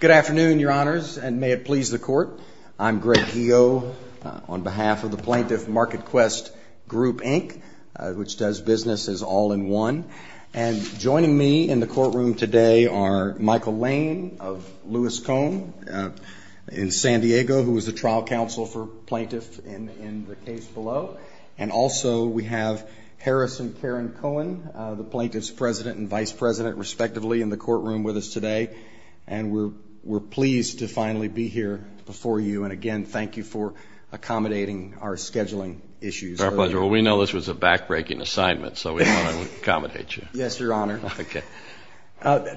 Good afternoon, Your Honors, and may it please the Court. I'm Greg Heo on behalf of the Plaintiff MarketQuest Group, Inc., which does business as all-in-one, and joining me in the courtroom today are Michael Lane of Lewis-Cohen in San Diego, who is the trial counsel for plaintiffs in the case below, and also we have Harrison Caron-Cohen, the plaintiff's president and vice president, respectively, in the courtroom with us today, and we're pleased to finally be here before you, and again, thank you for accommodating our scheduling issues. It's our pleasure. Well, we know this was a back-breaking assignment, so we thought I would accommodate you. Yes, Your Honor. Okay.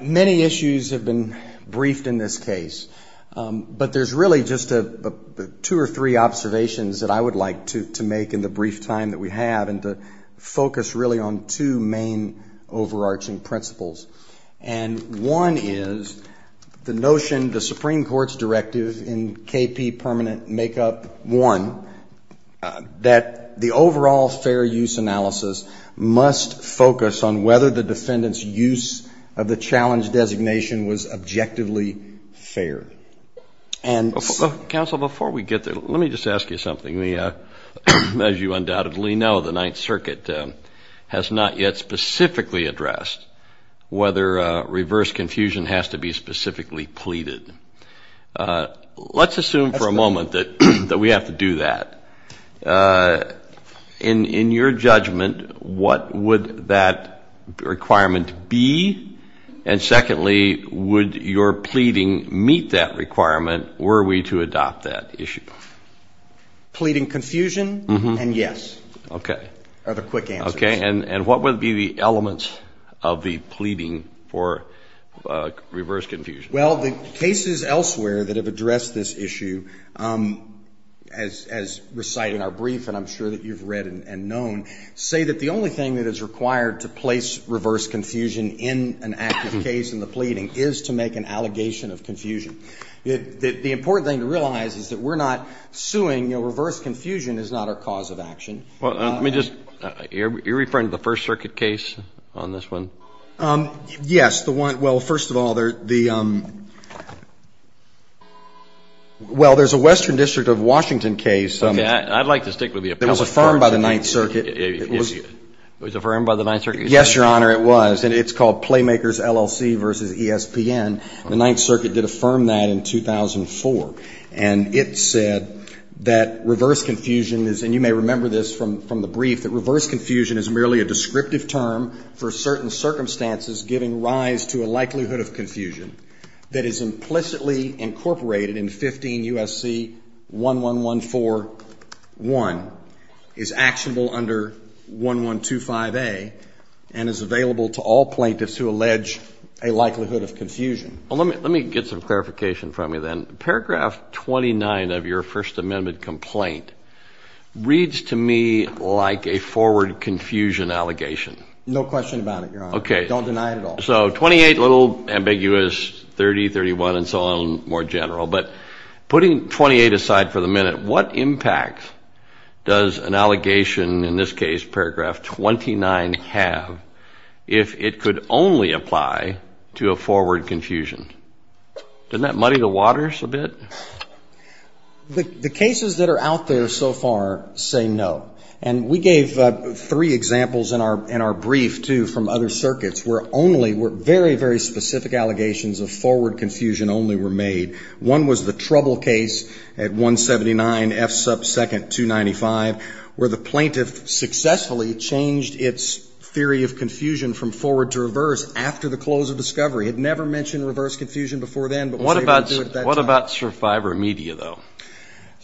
Many issues have been briefed in this case, but there's really just two or three observations that I would like to make in the brief time that we have and to focus really on two main overarching principles, and one is the notion, the Supreme Court's directive in K.P. Permanent Makeup 1, that the overall fair use analysis must focus on whether the defendant's use of the challenge designation was objectively fair, and so — That's something, as you undoubtedly know, the Ninth Circuit has not yet specifically addressed, whether reverse confusion has to be specifically pleaded. Let's assume for a moment that we have to do that. In your judgment, what would that requirement be, and secondly, would your pleading meet that requirement were we to adopt that issue? Pleading confusion and yes are the quick answers. Okay, and what would be the elements of the pleading for reverse confusion? Well, the cases elsewhere that have addressed this issue, as recited in our brief and I'm sure that you've read and known, say that the only thing that is required to place reverse confusion in an active case in the pleading is to make an allegation of confusion. The important thing to realize is that we're not suing, you know, reverse confusion is not our cause of action. Let me just — you're referring to the First Circuit case on this one? Yes, the one — well, first of all, the — well, there's a Western District of Washington case. Okay, I'd like to stick with the appellate court. It was affirmed by the Ninth Circuit. It was affirmed by the Ninth Circuit? Yes, Your Honor, it was. And it's called Playmakers LLC v. ESPN. The Ninth Circuit did affirm that in 2004. And it said that reverse confusion is — and you may remember this from the brief — that reverse confusion is merely a descriptive term for certain circumstances giving rise to a likelihood of confusion that is implicitly incorporated in 15 U.S.C. 11141, is actionable under 1125A, and is available to all plaintiffs who allege a likelihood of confusion. Let me get some clarification from you, then. Paragraph 29 of your First Amendment complaint reads to me like a forward confusion allegation. No question about it, Your Honor. Okay. Don't deny it at all. So 28, a little ambiguous, 30, 31, and so on, more general. But putting 28 aside for the minute, what impact does an allegation, in this case, paragraph 29, have if it could only apply to a forward confusion? Doesn't that muddy the waters a bit? The cases that are out there so far say no. And we gave three examples in our brief, too, from other circuits where only — where very, very specific allegations of forward confusion only were made. One was the Trouble case at 179 F sub 2nd, 295, where the plaintiff successfully changed its theory of confusion from forward to reverse after the close of discovery. It never mentioned reverse confusion before then, but was able to do it at that time. What about survivor media, though?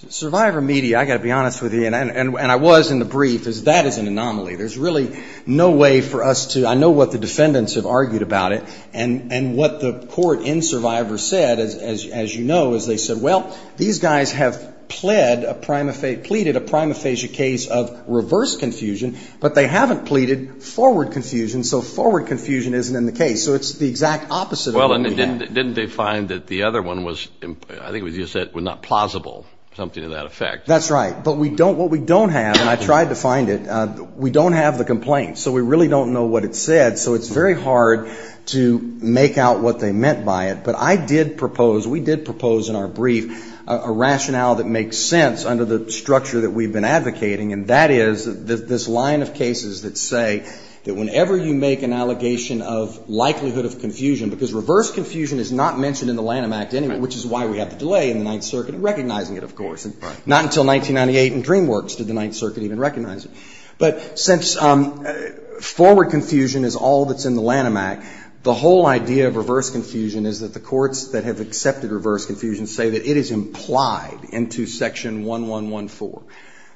Survivor media, I've got to be honest with you, and I was in the brief, is that is an anomaly. There's really no way for us to — I know what the defendants have argued about it, and what the court in Survivor said, as you know, is they said, well, these guys have pleaded a prima facie case of reverse confusion, but they haven't pleaded forward confusion, so forward confusion isn't in the case. So it's the exact opposite of what we have. Didn't they find that the other one was — I think you said was not plausible, something to that effect. That's right. But we don't — what we don't have, and I tried to find it, we don't have the complaint. So we really don't know what it said. So it's very hard to make out what they meant by it, but I did propose, we did propose in our brief a rationale that makes sense under the structure that we've been advocating, and that is this line of cases that say that whenever you make an allegation of likelihood of confusion, because reverse confusion is not mentioned in the Lanham Act anyway, which is why we have the delay in the Ninth Circuit in recognizing it, of course. Right. Not until 1998 in DreamWorks did the Ninth Circuit even recognize it. But since forward confusion is all that's in the Lanham Act, the whole idea of reverse confusion is that the courts that have accepted reverse confusion say that it is implied into Section 1114.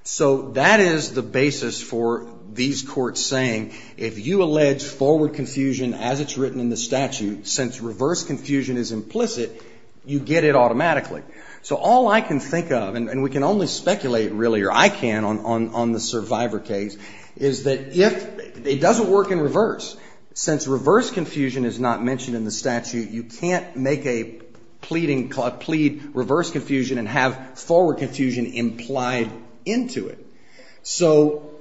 So that is the basis for these courts saying if you allege forward confusion as it's written in the statute, since reverse confusion is implicit, you get it automatically. So all I can think of, and we can only speculate really, or I can on the survivor case, is that if it doesn't work in reverse, since reverse confusion is not mentioned in the statute, you can't make a pleading, plead reverse confusion and have forward confusion implied into it. So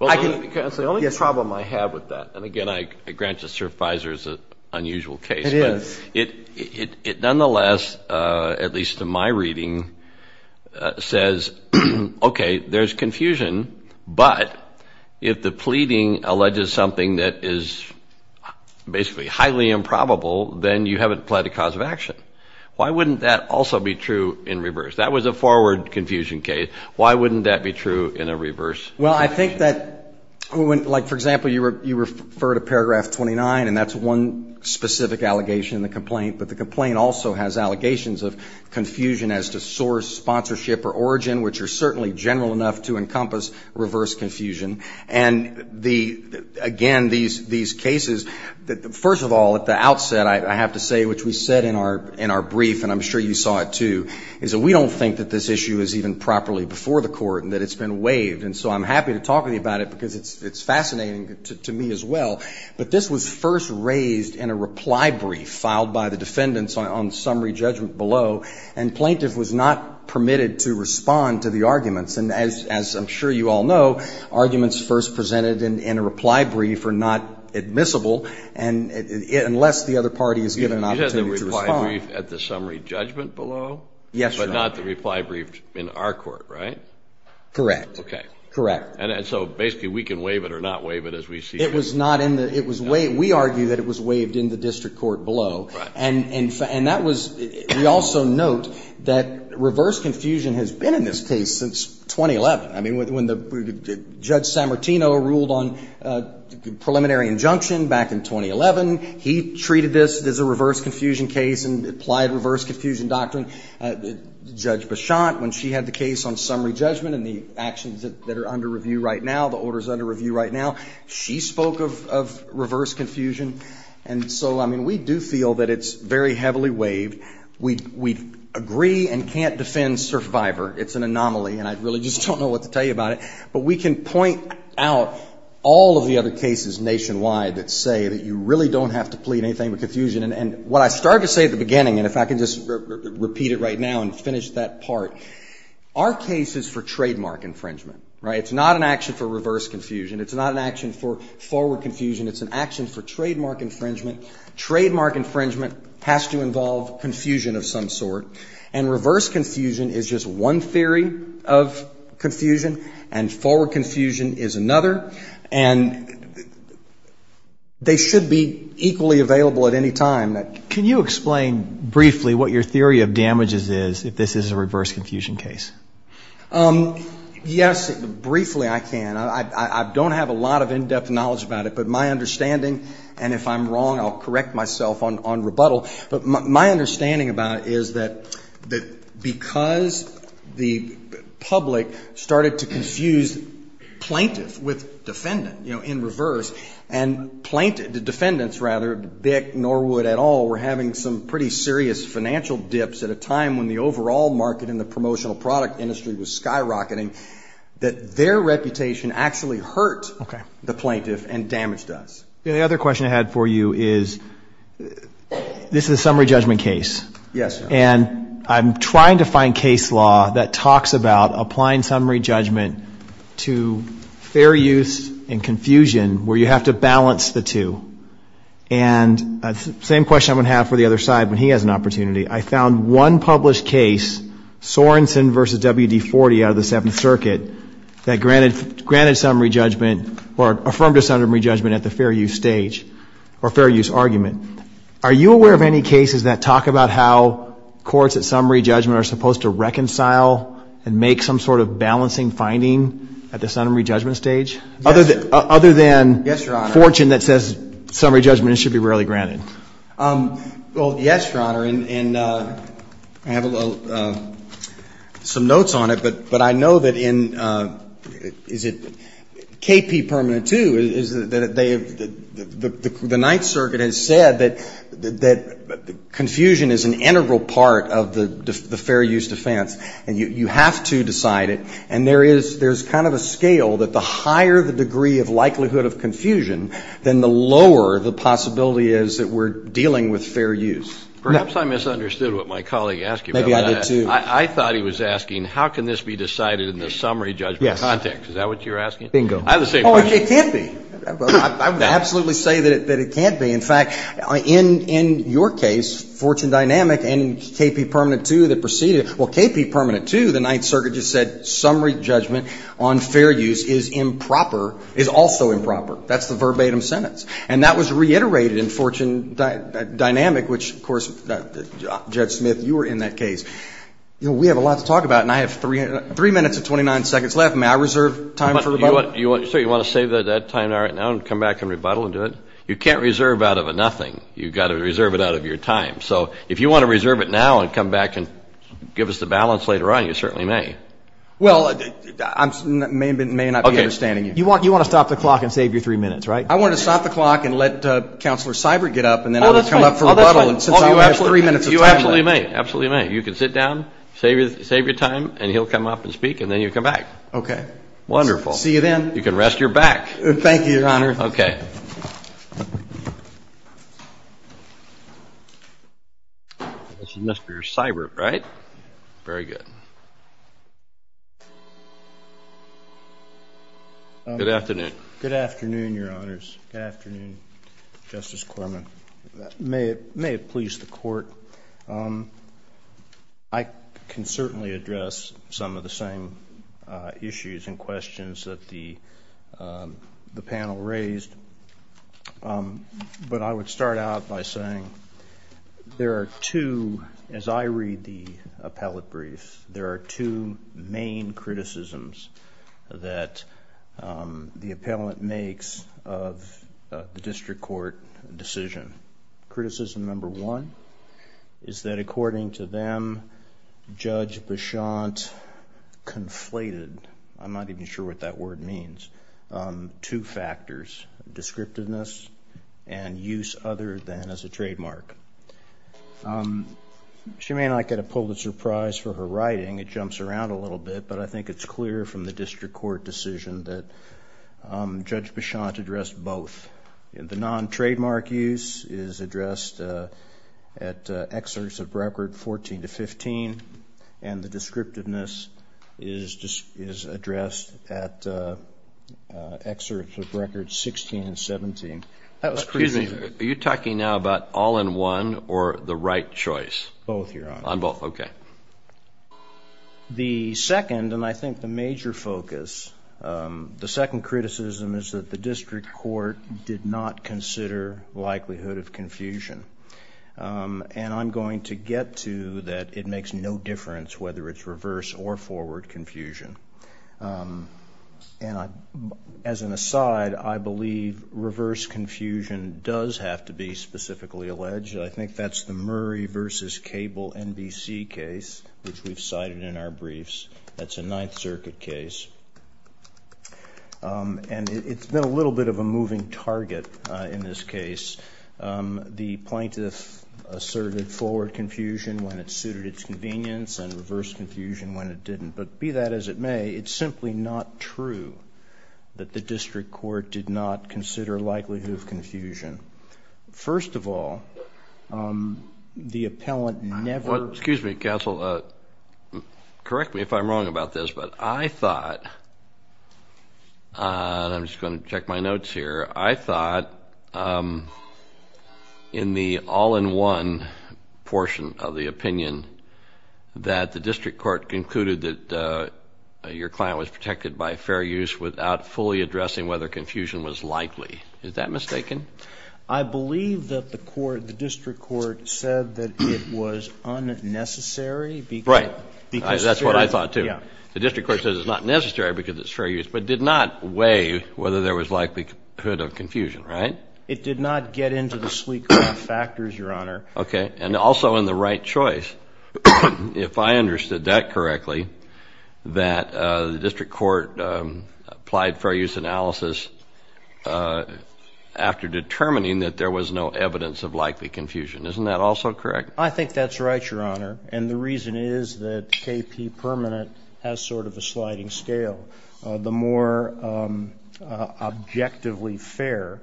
I can. Well, that's the only problem I have with that. And again, I grant you, sir, Fisher is an unusual case. It is. It nonetheless, at least in my reading, says, okay, there's confusion, but if the pleading alleges something that is basically highly improbable, then you haven't pled a cause of action. Why wouldn't that also be true in reverse? That was a forward confusion case. Why wouldn't that be true in a reverse? Well, I think that, like for example, you refer to paragraph 29, and that's one specific allegation in the complaint. But the complaint also has allegations of confusion as to source, sponsorship, or origin, which are certainly general enough to encompass reverse confusion. And again, these cases, first of all, at the outset, I have to say, which we said in our brief, and I'm sure you saw it too, is that we don't think that this issue is even properly before the court and that it's been waived. And so I'm happy to talk with you about it because it's fascinating to me as well. But this was first raised in a reply brief filed by the defendants on summary judgment below, and plaintiff was not permitted to respond to the arguments. And as I'm sure you all know, arguments first presented in a reply brief are not admissible unless the other party is given an opportunity to respond. You had the reply brief at the summary judgment below? Yes, Your Honor. But not the reply brief in our court, right? Correct. Okay. Correct. And so basically we can waive it or not waive it as we see fit? No, it was not in the, it was waived, we argue that it was waived in the district court below. Right. And that was, we also note that reverse confusion has been in this case since 2011. I mean, when Judge Sammartino ruled on preliminary injunction back in 2011, he treated this as a reverse confusion case and applied reverse confusion doctrine. Judge Bichotte, when she had the case on summary judgment and the actions that are under review right now, the orders under review right now, she spoke of reverse confusion. And so, I mean, we do feel that it's very heavily waived. We agree and can't defend survivor. It's an anomaly and I really just don't know what to tell you about it. But we can point out all of the other cases nationwide that say that you really don't have to plead anything with confusion. And what I started to say at the beginning, and if I can just repeat it right now and finish that part, our case is for trademark infringement, right? It's not an action for reverse confusion. It's not an action for forward confusion. It's an action for trademark infringement. Trademark infringement has to involve confusion of some sort. And reverse confusion is just one theory of confusion. And forward confusion is another. And they should be equally available at any time. Can you explain briefly what your theory of damages is if this is a reverse confusion case? Yes. Briefly, I can. I don't have a lot of in-depth knowledge about it, but my understanding, and if I'm wrong, I'll correct myself on rebuttal, but my understanding about it is that because the public started to confuse plaintiff with defendant, you know, in reverse, and plaintiff, the defendants rather, Bick, Norwood, et al, were having some pretty serious financial dips at a time when the overall market in the promotional product industry was skyrocketing, that their reputation actually hurt the plaintiff and damaged us. And the other question I had for you is, this is a summary judgment case, and I'm trying to find case law that talks about applying summary judgment to fair use and confusion where you have to balance the two. And same question I'm going to have for the other side when he has an opportunity. I found one published case, Sorenson v. WD-40 out of the Seventh Circuit, that granted summary judgment, or affirmed a summary judgment at the fair use stage, or fair use argument. Are you aware of any cases that talk about how courts at summary judgment are supposed to reconcile and make some sort of balancing finding at the summary judgment stage? Yes, Your Honor. Other than fortune that says summary judgment should be rarely granted. Well, yes, Your Honor, and I have some notes on it, but I know that in, is it K.P. Permanent II, the Ninth Circuit has said that confusion is an integral part of the fair use defense, and you have to decide it. And there is kind of a scale that the higher the degree of likelihood of confusion, then the lower the possibility is that we're dealing with fair use. Perhaps I misunderstood what my colleague asked you. Maybe I did, too. I thought he was asking how can this be decided in the summary judgment context. Yes. Is that what you're asking? Bingo. I have the same question. Oh, it can't be. I would absolutely say that it can't be. In fact, in your case, fortune dynamic and K.P. Permanent II that preceded it, well, K.P. Permanent II, the Ninth Circuit just said summary judgment on fair use is improper, is also improper. That's the verbatim sentence. And that was reiterated in fortune dynamic, which, of course, Judge Smith, you were in that case. You know, we have a lot to talk about, and I have three minutes and 29 seconds left. May I reserve time for rebuttal? Sir, you want to save that time right now and come back and rebuttal and do it? You can't reserve out of a nothing. You've got to reserve it out of your time. So if you want to reserve it now and come back and give us the balance later on, you certainly may. Well, I may not be understanding you. You want to stop the clock and save your three minutes, right? I want to stop the clock and let Counselor Seibert get up, and then I'll come up for rebuttal. Oh, you absolutely may. You can sit down, save your time, and he'll come up and speak, and then you come back. Okay. Wonderful. See you then. You can rest your back. Thank you, Your Honor. Okay. This is Mr. Seibert, right? Very good. Good afternoon. Good afternoon, Your Honors. Good afternoon, Justice Corman. May it please the Court, I can certainly address some of the same issues and questions that the panel raised. But I would start out by saying there are two, as I read the appellate brief, there are two main criticisms that the appellant makes of the district court decision. Criticism number one is that according to them, Judge Beshant conflated, I'm not even sure what that word means, two factors, descriptiveness and use other than as a trademark. She may not get a Pulitzer Prize for her writing, it jumps around a little bit, but I think it's clear from the district court decision that Judge Beshant addressed both. The non-trademark use is addressed at excerpts of records 14 to 15, and the descriptiveness is addressed at excerpts of records 16 and 17. Are you talking now about all-in-one or the right choice? Both, Your Honor. On both, okay. The second, and I think the major focus, the second criticism is that the district court did not consider likelihood of confusion. And I'm going to get to that it makes no difference whether it's reverse or forward confusion. As an aside, I believe reverse confusion does have to be specifically alleged. I think that's the Murray v. Cable NBC case, which we've cited in our briefs. That's a Ninth Circuit case. And it's been a little bit of a moving target in this case. The plaintiff asserted forward confusion when it suited its convenience and reverse confusion when it didn't. But be that as it may, it's simply not true that the district court did not consider likelihood of confusion. First of all, the appellant never... Excuse me, counsel. Correct me if I'm wrong about this, but I thought, and I'm just going to check my notes here, I thought in the all-in-one portion of the opinion that the district court concluded that your client was protected by fair use without fully addressing whether confusion was likely. Is that mistaken? I believe that the court, the district court, said that it was unnecessary because... Right. That's what I thought, too. Yeah. The district court said it's not necessary because it's fair use, but did not weigh whether there was likelihood of confusion, right? It did not get into the sleek factors, Your Honor. Okay. And also in the right choice, if I understood that correctly, that the district court applied fair use analysis after determining that there was no evidence of likely confusion. Isn't that also correct? I think that's right, Your Honor, and the reason is that KP permanent has sort of a sliding scale. The more objectively fair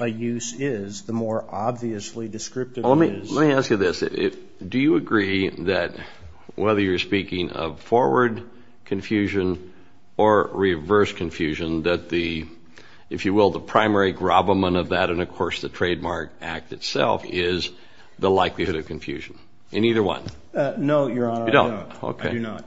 a use is, the more obviously descriptive it is. Let me ask you this. Do you agree that whether you're speaking of forward confusion or reverse confusion, that the, if you will, the primary gravamen of that and, of course, the trademark act itself is the likelihood of confusion in either one? No, Your Honor. You don't? I do not.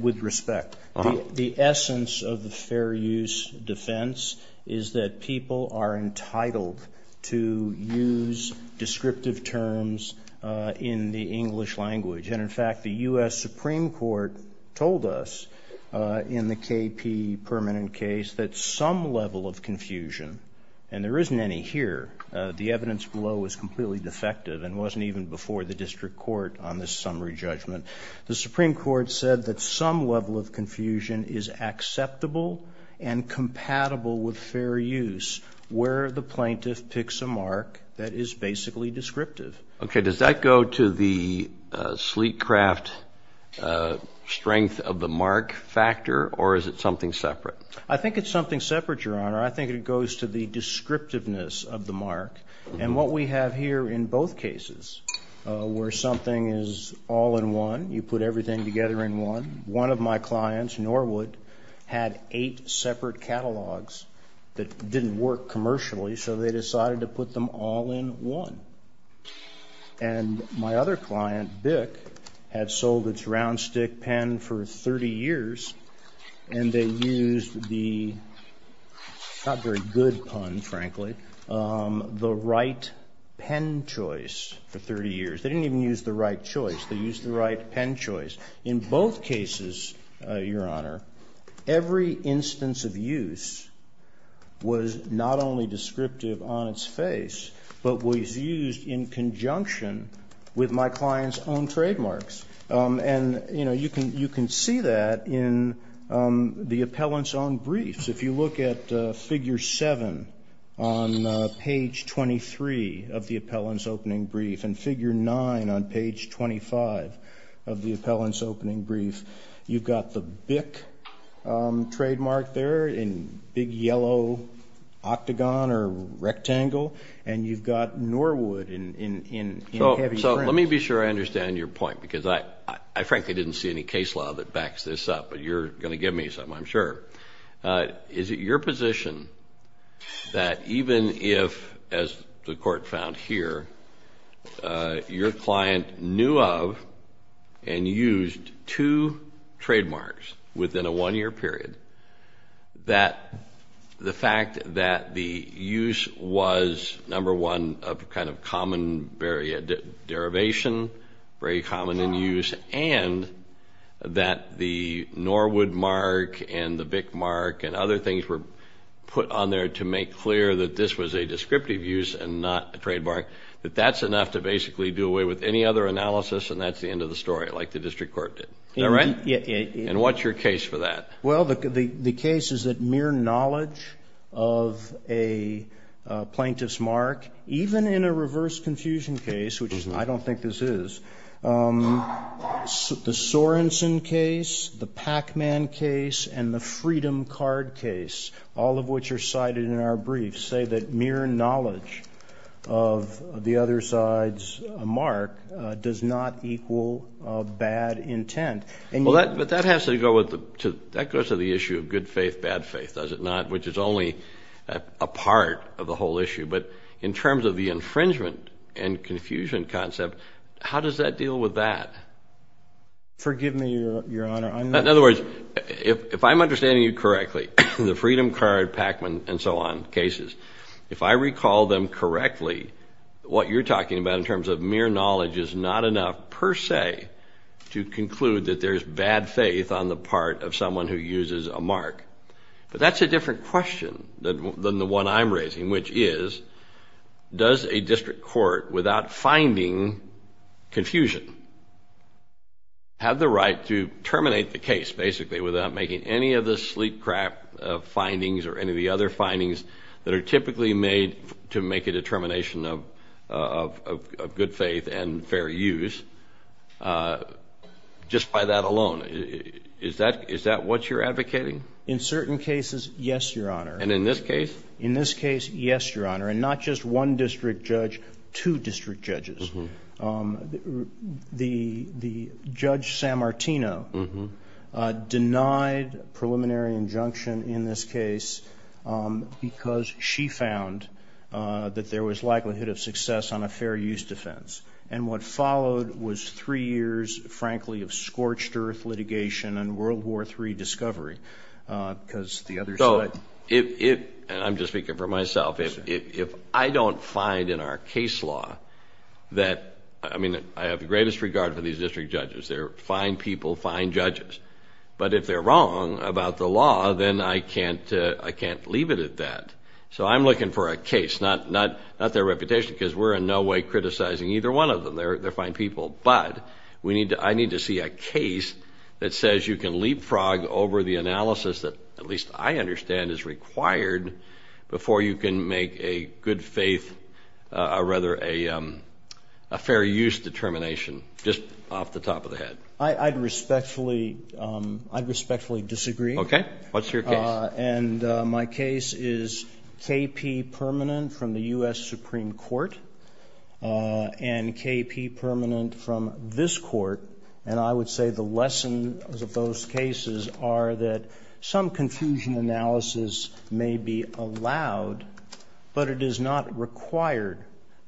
With respect, the essence of the fair use defense is that people are entitled to use descriptive terms in the English language, and, in fact, the U.S. Supreme Court told us in the KP permanent case that some level of confusion, and there isn't any here, the evidence below is completely defective and wasn't even before the district court on this summary judgment. The Supreme Court said that some level of confusion is acceptable and compatible with fair use where the plaintiff picks a mark that is basically descriptive. Okay. Does that go to the sleek craft strength of the mark factor, or is it something separate? I think it's something separate, Your Honor. I think it goes to the descriptiveness of the mark. And what we have here in both cases where something is all in one, you put everything together in one, one of my clients, Norwood, had eight separate catalogs that didn't work commercially, so they decided to put them all in one. And my other client, Bick, had sold its round stick pen for 30 years, and they used the not very good pun, frankly, the right pen choice for 30 years. They didn't even use the right choice. They used the right pen choice. In both cases, Your Honor, every instance of use was not only descriptive on its face, but was used in conjunction with my client's own trademarks. And, you know, you can see that in the appellant's own briefs. If you look at figure 7 on page 23 of the appellant's opening brief and figure 9 on page 25 of the appellant's opening brief, you've got the Bick trademark there in big yellow octagon or rectangle, and you've got Norwood in heavy print. So let me be sure I understand your point, because I frankly didn't see any case law that backs this up, but you're going to give me some, I'm sure. Is it your position that even if, as the court found here, your client knew of and used two trademarks within a one-year period, that the fact that the use was, number one, kind of common, very derivation, very common in use, and that the Norwood mark and the Bick mark and other things were put on there to make clear that this was a descriptive use and not a trademark, that that's enough to basically do away with any other analysis, and that's the end of the story, like the district court did. Is that right? And what's your case for that? Well, the case is that mere knowledge of a plaintiff's mark, even in a reverse confusion case, which I don't think this is, the Sorensen case, the Pac-Man case, and the Freedom card case, all of which are cited in our briefs, say that mere knowledge of the other side's mark does not equal bad intent. But that has to go with the issue of good faith, bad faith, does it not, which is only a part of the whole issue. But in terms of the infringement and confusion concept, how does that deal with that? Forgive me, Your Honor. In other words, if I'm understanding you correctly, the Freedom card, Pac-Man, and so on cases, if I recall them correctly, what you're talking about in terms of mere knowledge is not enough per se to conclude that there's bad faith on the part of someone who uses a mark. But that's a different question than the one I'm raising, which is, does a district court, without finding confusion, have the right to terminate the case, basically, without making any of the sleepcrap findings or any of the other findings that are typically made to make a determination of good faith and fair use? Just by that alone, is that what you're advocating? In certain cases, yes, Your Honor. And in this case? In this case, yes, Your Honor. And not just one district judge, two district judges. The Judge Sammartino denied preliminary injunction in this case because she found that there was likelihood of success on a fair use defense. And what followed was three years, frankly, of scorched earth litigation and World War III discovery because the other side. I'm just speaking for myself. If I don't find in our case law that, I mean, I have the greatest regard for these district judges. They're fine people, fine judges. But if they're wrong about the law, then I can't leave it at that. So I'm looking for a case, not their reputation, because we're in no way criticizing either one of them. They're fine people. But I need to see a case that says you can leapfrog over the analysis that, at least I understand, is required before you can make a good faith or rather a fair use determination, just off the top of the head. I'd respectfully disagree. Okay. What's your case? And my case is K.P. Permanent from the U.S. Supreme Court and K.P. Permanent from this court. And I would say the lessons of those cases are that some confusion analysis may be allowed, but it is not required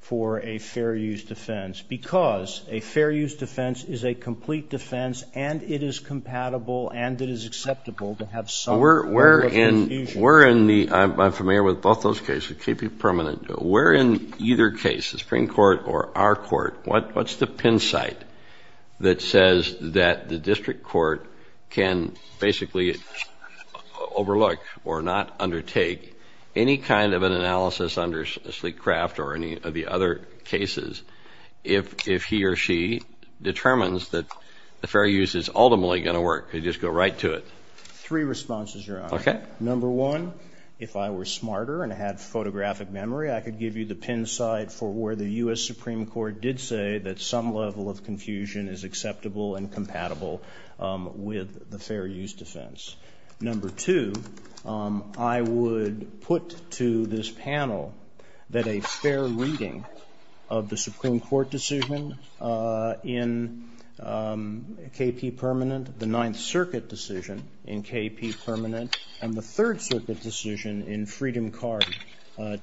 for a fair use defense because a fair use defense is a complete defense and it is compatible and it is acceptable to have some level of confusion. I'm familiar with both those cases. K.P. Permanent. Where in either case, the Supreme Court or our court, what's the pin site that says that the district court can basically overlook or not undertake any kind of an analysis under Sleek-Craft or any of the other cases if he or she determines that the fair use is ultimately going to work? Could you just go right to it? Three responses, Your Honor. Okay. Number one, if I were smarter and had photographic memory, I could give you the pin site for where the U.S. Supreme Court did say that some level of confusion is acceptable and compatible with the fair use defense. Number two, I would put to this panel that a fair reading of the Supreme Court decision in K.P. Permanent, the Ninth Circuit decision in K.P. Permanent, and the Third Circuit decision in Freedom Card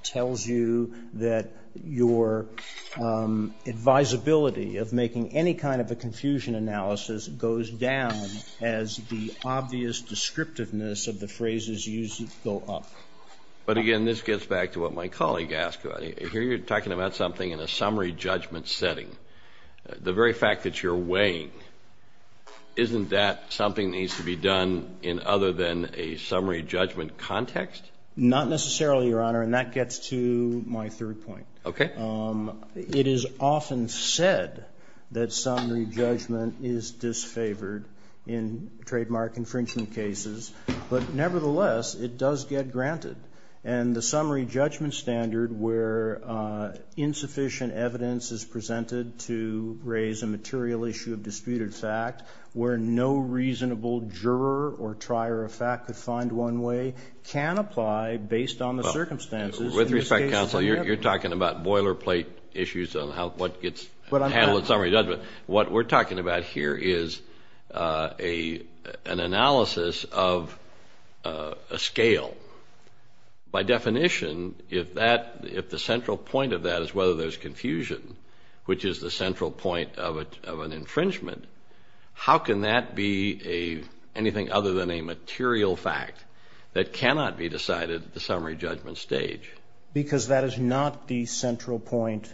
tells you that your advisability of making any kind of a confusion analysis goes down as the obvious descriptiveness of the phrases used go up. But again, this gets back to what my colleague asked about. Here you're talking about something in a summary judgment setting. The very fact that you're weighing, isn't that something that needs to be done in other than a summary judgment context? Not necessarily, Your Honor, and that gets to my third point. Okay. It is often said that summary judgment is disfavored in trademark infringement cases, but nevertheless it does get granted. And the summary judgment standard where insufficient evidence is presented to raise a material issue of disputed fact, where no reasonable juror or trier of fact could find one way, can apply based on the circumstances. With respect, counsel, you're talking about boilerplate issues on what gets handled in summary judgment. What we're talking about here is an analysis of a scale. By definition, if the central point of that is whether there's confusion, which is the central point of an infringement, how can that be anything other than a material fact that cannot be decided at the summary judgment stage? Because that is not the central point.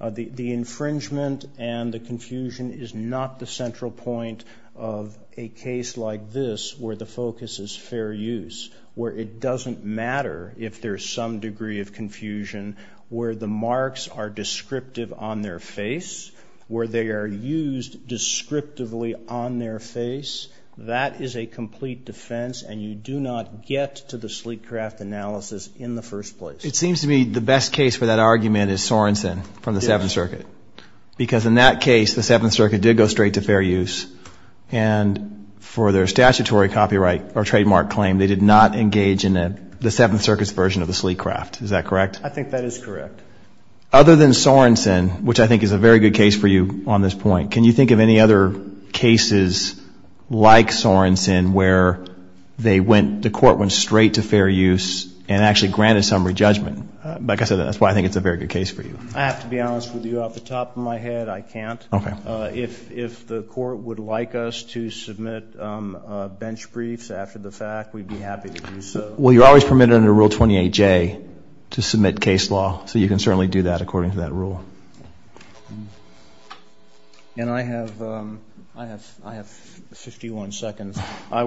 The infringement and the confusion is not the central point of a case like this where the focus is fair use, where it doesn't matter if there's some degree of confusion, where the marks are descriptive on their face, where they are used descriptively on their face. That is a complete defense, and you do not get to the Sleekcraft analysis in the first place. It seems to me the best case for that argument is Sorenson from the Seventh Circuit, because in that case the Seventh Circuit did go straight to fair use, and for their statutory copyright or trademark claim, they did not engage in the Seventh Circuit's version of the Sleekcraft. Is that correct? I think that is correct. Other than Sorenson, which I think is a very good case for you on this point, can you think of any other cases like Sorenson where they went, the court went straight to fair use and actually granted summary judgment? Like I said, that's why I think it's a very good case for you. I have to be honest with you. Off the top of my head, I can't. Okay. If the court would like us to submit bench briefs after the fact, we'd be happy to do so. Well, you're always permitted under Rule 28J to submit case law, so you can certainly do that according to that rule. And I have 51 seconds. I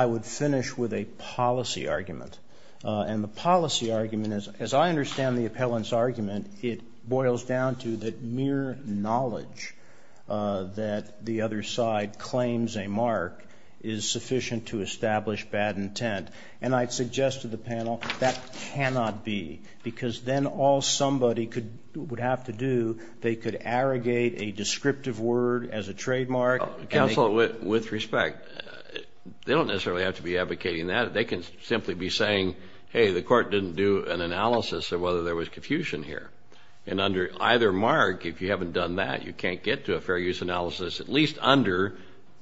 would finish with a policy argument. And the policy argument, as I understand the appellant's argument, it boils down to that mere knowledge that the other side claims a mark is sufficient to establish bad intent. And I'd suggest to the panel that cannot be because then all somebody would have to do, they could arrogate a descriptive word as a trademark. Counsel, with respect, they don't necessarily have to be advocating that. They can simply be saying, hey, the court didn't do an analysis of whether there was confusion here. And under either mark, if you haven't done that, you can't get to a fair use analysis, at least under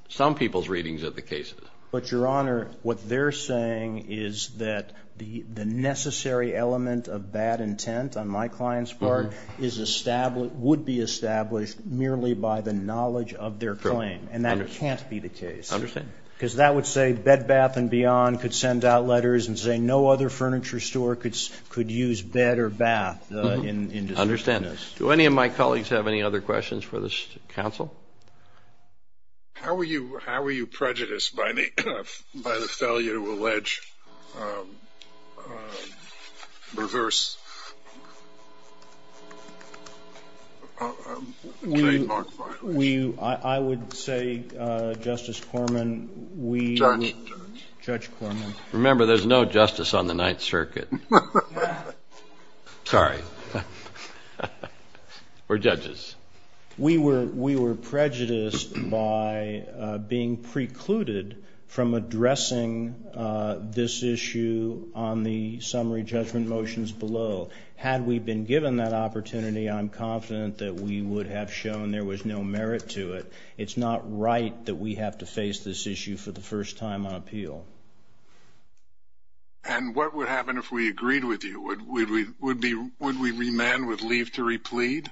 some people's readings of the cases. But, Your Honor, what they're saying is that the necessary element of bad intent, on my client's part, would be established merely by the knowledge of their claim. Correct. And that can't be the case. I understand. Because that would say Bed, Bath & Beyond could send out letters and say no other furniture store could use bed or bath. I understand. Do any of my colleagues have any other questions for this counsel? How were you prejudiced by the failure to allege reverse trademark violations? I would say, Justice Corman, we- Judge. Judge Corman. Remember, there's no justice on the Ninth Circuit. Yeah. Sorry. We're judges. We were prejudiced by being precluded from addressing this issue on the summary judgment motions below. Had we been given that opportunity, I'm confident that we would have shown there was no merit to it. It's not right that we have to face this issue for the first time on appeal. And what would happen if we agreed with you? Would we remand, would leave to replead?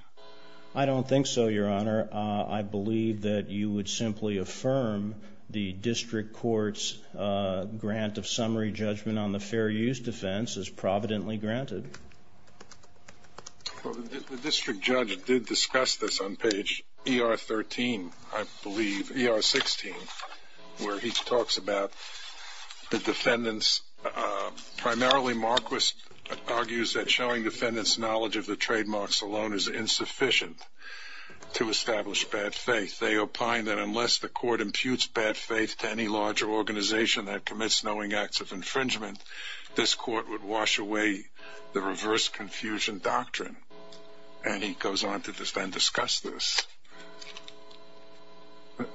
I don't think so, Your Honor. I believe that you would simply affirm the district court's grant of summary judgment on the fair use defense as providently granted. Well, the district judge did discuss this on page ER 13, I believe, ER 16, where he talks about the defendants. Primarily, Marquis argues that showing defendants knowledge of the trademarks alone is insufficient to establish bad faith. They opine that unless the court imputes bad faith to any larger organization that commits knowing acts of infringement, this court would wash away the reverse confusion doctrine. And he goes on to then discuss this.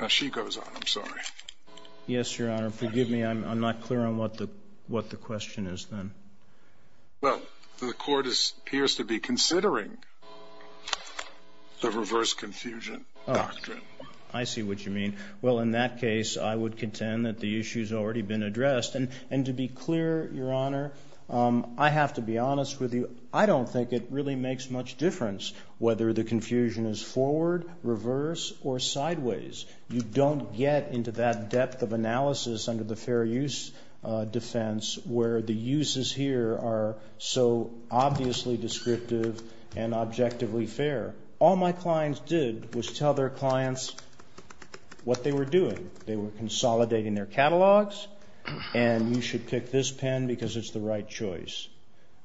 She goes on. I'm sorry. Yes, Your Honor. Forgive me. I'm not clear on what the question is then. Well, the court appears to be considering the reverse confusion doctrine. I see what you mean. Well, in that case, I would contend that the issue's already been addressed. And to be clear, Your Honor, I have to be honest with you. I don't think it really makes much difference whether the confusion is forward, reverse, or sideways. You don't get into that depth of analysis under the fair use defense where the uses here are so obviously descriptive and objectively fair. All my clients did was tell their clients what they were doing. They were consolidating their catalogs, and you should pick this pen because it's the right choice.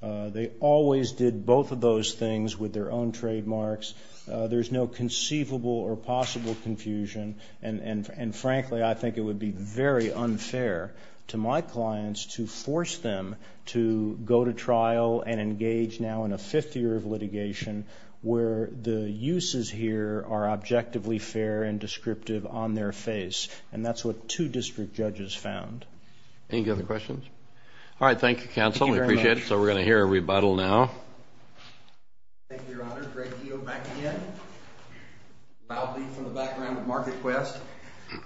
They always did both of those things with their own trademarks. There's no conceivable or possible confusion, and frankly, I think it would be very unfair to my clients to force them to go to trial and engage now in a fifth year of litigation where the uses here are objectively fair and descriptive on their face. And that's what two district judges found. Any other questions? All right. Thank you, counsel. We appreciate it. So we're going to hear a rebuttal now. Thank you, Your Honor. Greg Keto back again. Bob Lee from the background with MarketQuest.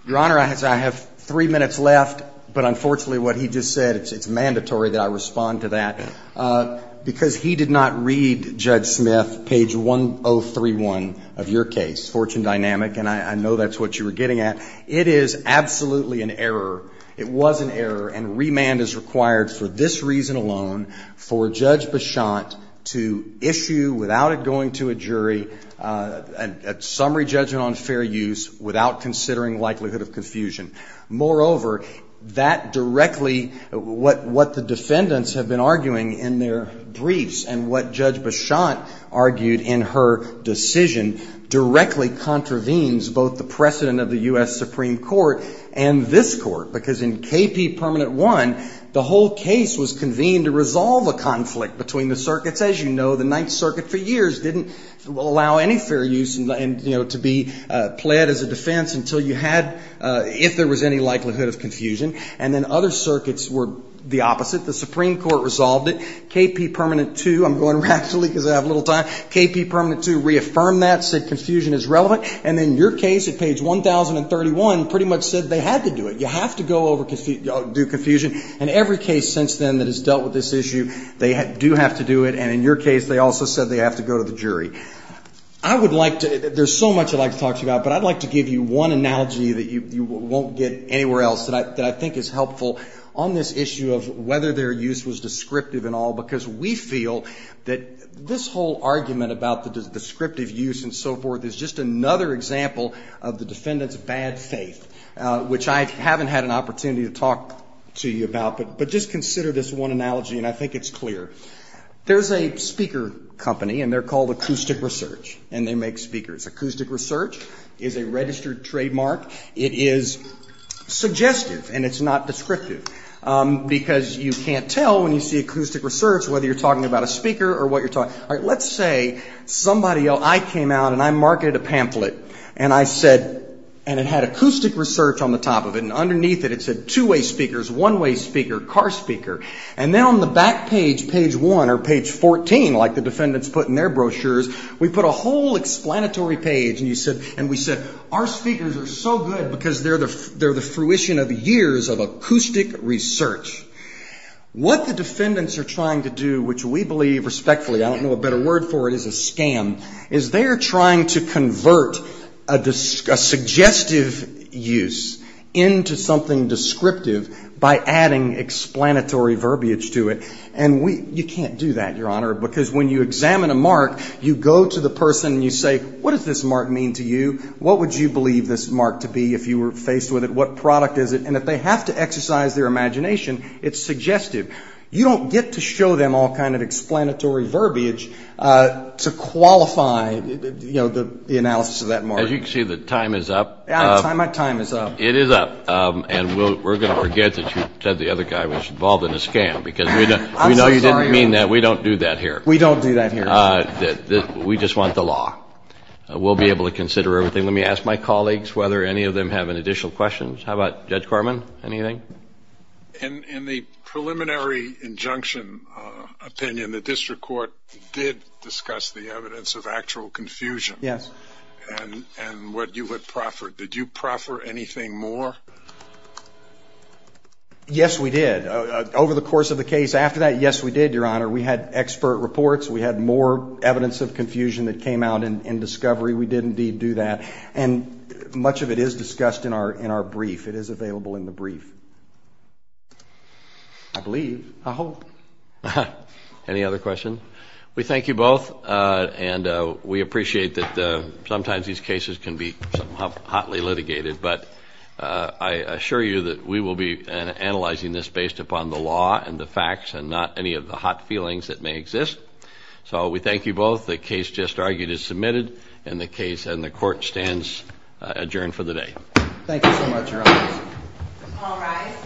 Your Honor, I have three minutes left, but unfortunately what he just said, it's mandatory that I respond to that, because he did not read Judge Smith page 1031 of your case, Fortune Dynamic, and I know that's what you were getting at. It is absolutely an error. It was an error, and remand is required for this reason alone, for Judge Beshant to issue, without it going to a jury, a summary judgment on fair use without considering likelihood of confusion. Moreover, that directly, what the defendants have been arguing in their briefs and what Judge Beshant argued in her decision directly contravenes both the precedent of the U.S. Supreme Court and this Court, because in KP Permanent 1, the whole case was convened to resolve a conflict between the circuits. As you know, the Ninth Circuit for years didn't allow any fair use to be pled as a defense until you had, if there was any likelihood of confusion, and then other circuits were the opposite. The Supreme Court resolved it. KP Permanent 2, I'm going rapidly because I have little time, KP Permanent 2 reaffirmed that, said confusion is relevant, and then your case at page 1031 pretty much said they had to do it. You have to go over, do confusion, and every case since then that has dealt with this issue, they do have to do it, and in your case they also said they have to go to the jury. I would like to, there's so much I'd like to talk to you about, but I'd like to give you one analogy that you won't get anywhere else that I think is helpful on this issue of whether their use was descriptive and all, because we feel that this whole argument about the descriptive use and so forth is just another example of the defendant's bad faith, which I haven't had an opportunity to talk to you about, but just consider this one analogy, and I think it's clear. There's a speaker company, and they're called Acoustic Research, and they make speakers. Acoustic Research is a registered trademark. It is suggestive, and it's not descriptive, because you can't tell when you see Acoustic Research whether you're talking about a speaker or what you're talking about. All right, let's say somebody, I came out and I marketed a pamphlet, and I said, and it had Acoustic Research on the top of it, and underneath it it said two-way speakers, one-way speaker, car speaker, and then on the back page, page 1 or page 14, like the defendants put in their brochures, we put a whole explanatory page, and we said, our speakers are so good because they're the fruition of years of acoustic research. What the defendants are trying to do, which we believe respectfully, I don't know a better word for it, is a scam, is they're trying to convert a suggestive use into something descriptive by adding explanatory verbiage to it, and you can't do that, Your Honor, because when you examine a mark, you go to the person and you say, what does this mark mean to you? What would you believe this mark to be if you were faced with it? What product is it? And if they have to exercise their imagination, it's suggestive. You don't get to show them all kind of explanatory verbiage to qualify, you know, the analysis of that mark. As you can see, the time is up. My time is up. It is up, and we're going to forget that you said the other guy was involved in a scam, because we know you didn't mean that. We don't do that here. We don't do that here. We just want the law. We'll be able to consider everything. Let me ask my colleagues whether any of them have any additional questions. How about Judge Corman, anything? In the preliminary injunction opinion, the district court did discuss the evidence of actual confusion. Yes. And what you had proffered. Did you proffer anything more? Yes, we did. Over the course of the case after that, yes, we did, Your Honor. We had expert reports. We had more evidence of confusion that came out in discovery. We did, indeed, do that. And much of it is discussed in our brief. It is available in the brief, I believe, I hope. Any other questions? We thank you both, and we appreciate that sometimes these cases can be hotly litigated, but I assure you that we will be analyzing this based upon the law and the facts and not any of the hot feelings that may exist. So we thank you both. The case just argued is submitted, and the court stands adjourned for the day. Thank you so much, Your Honor. All rise.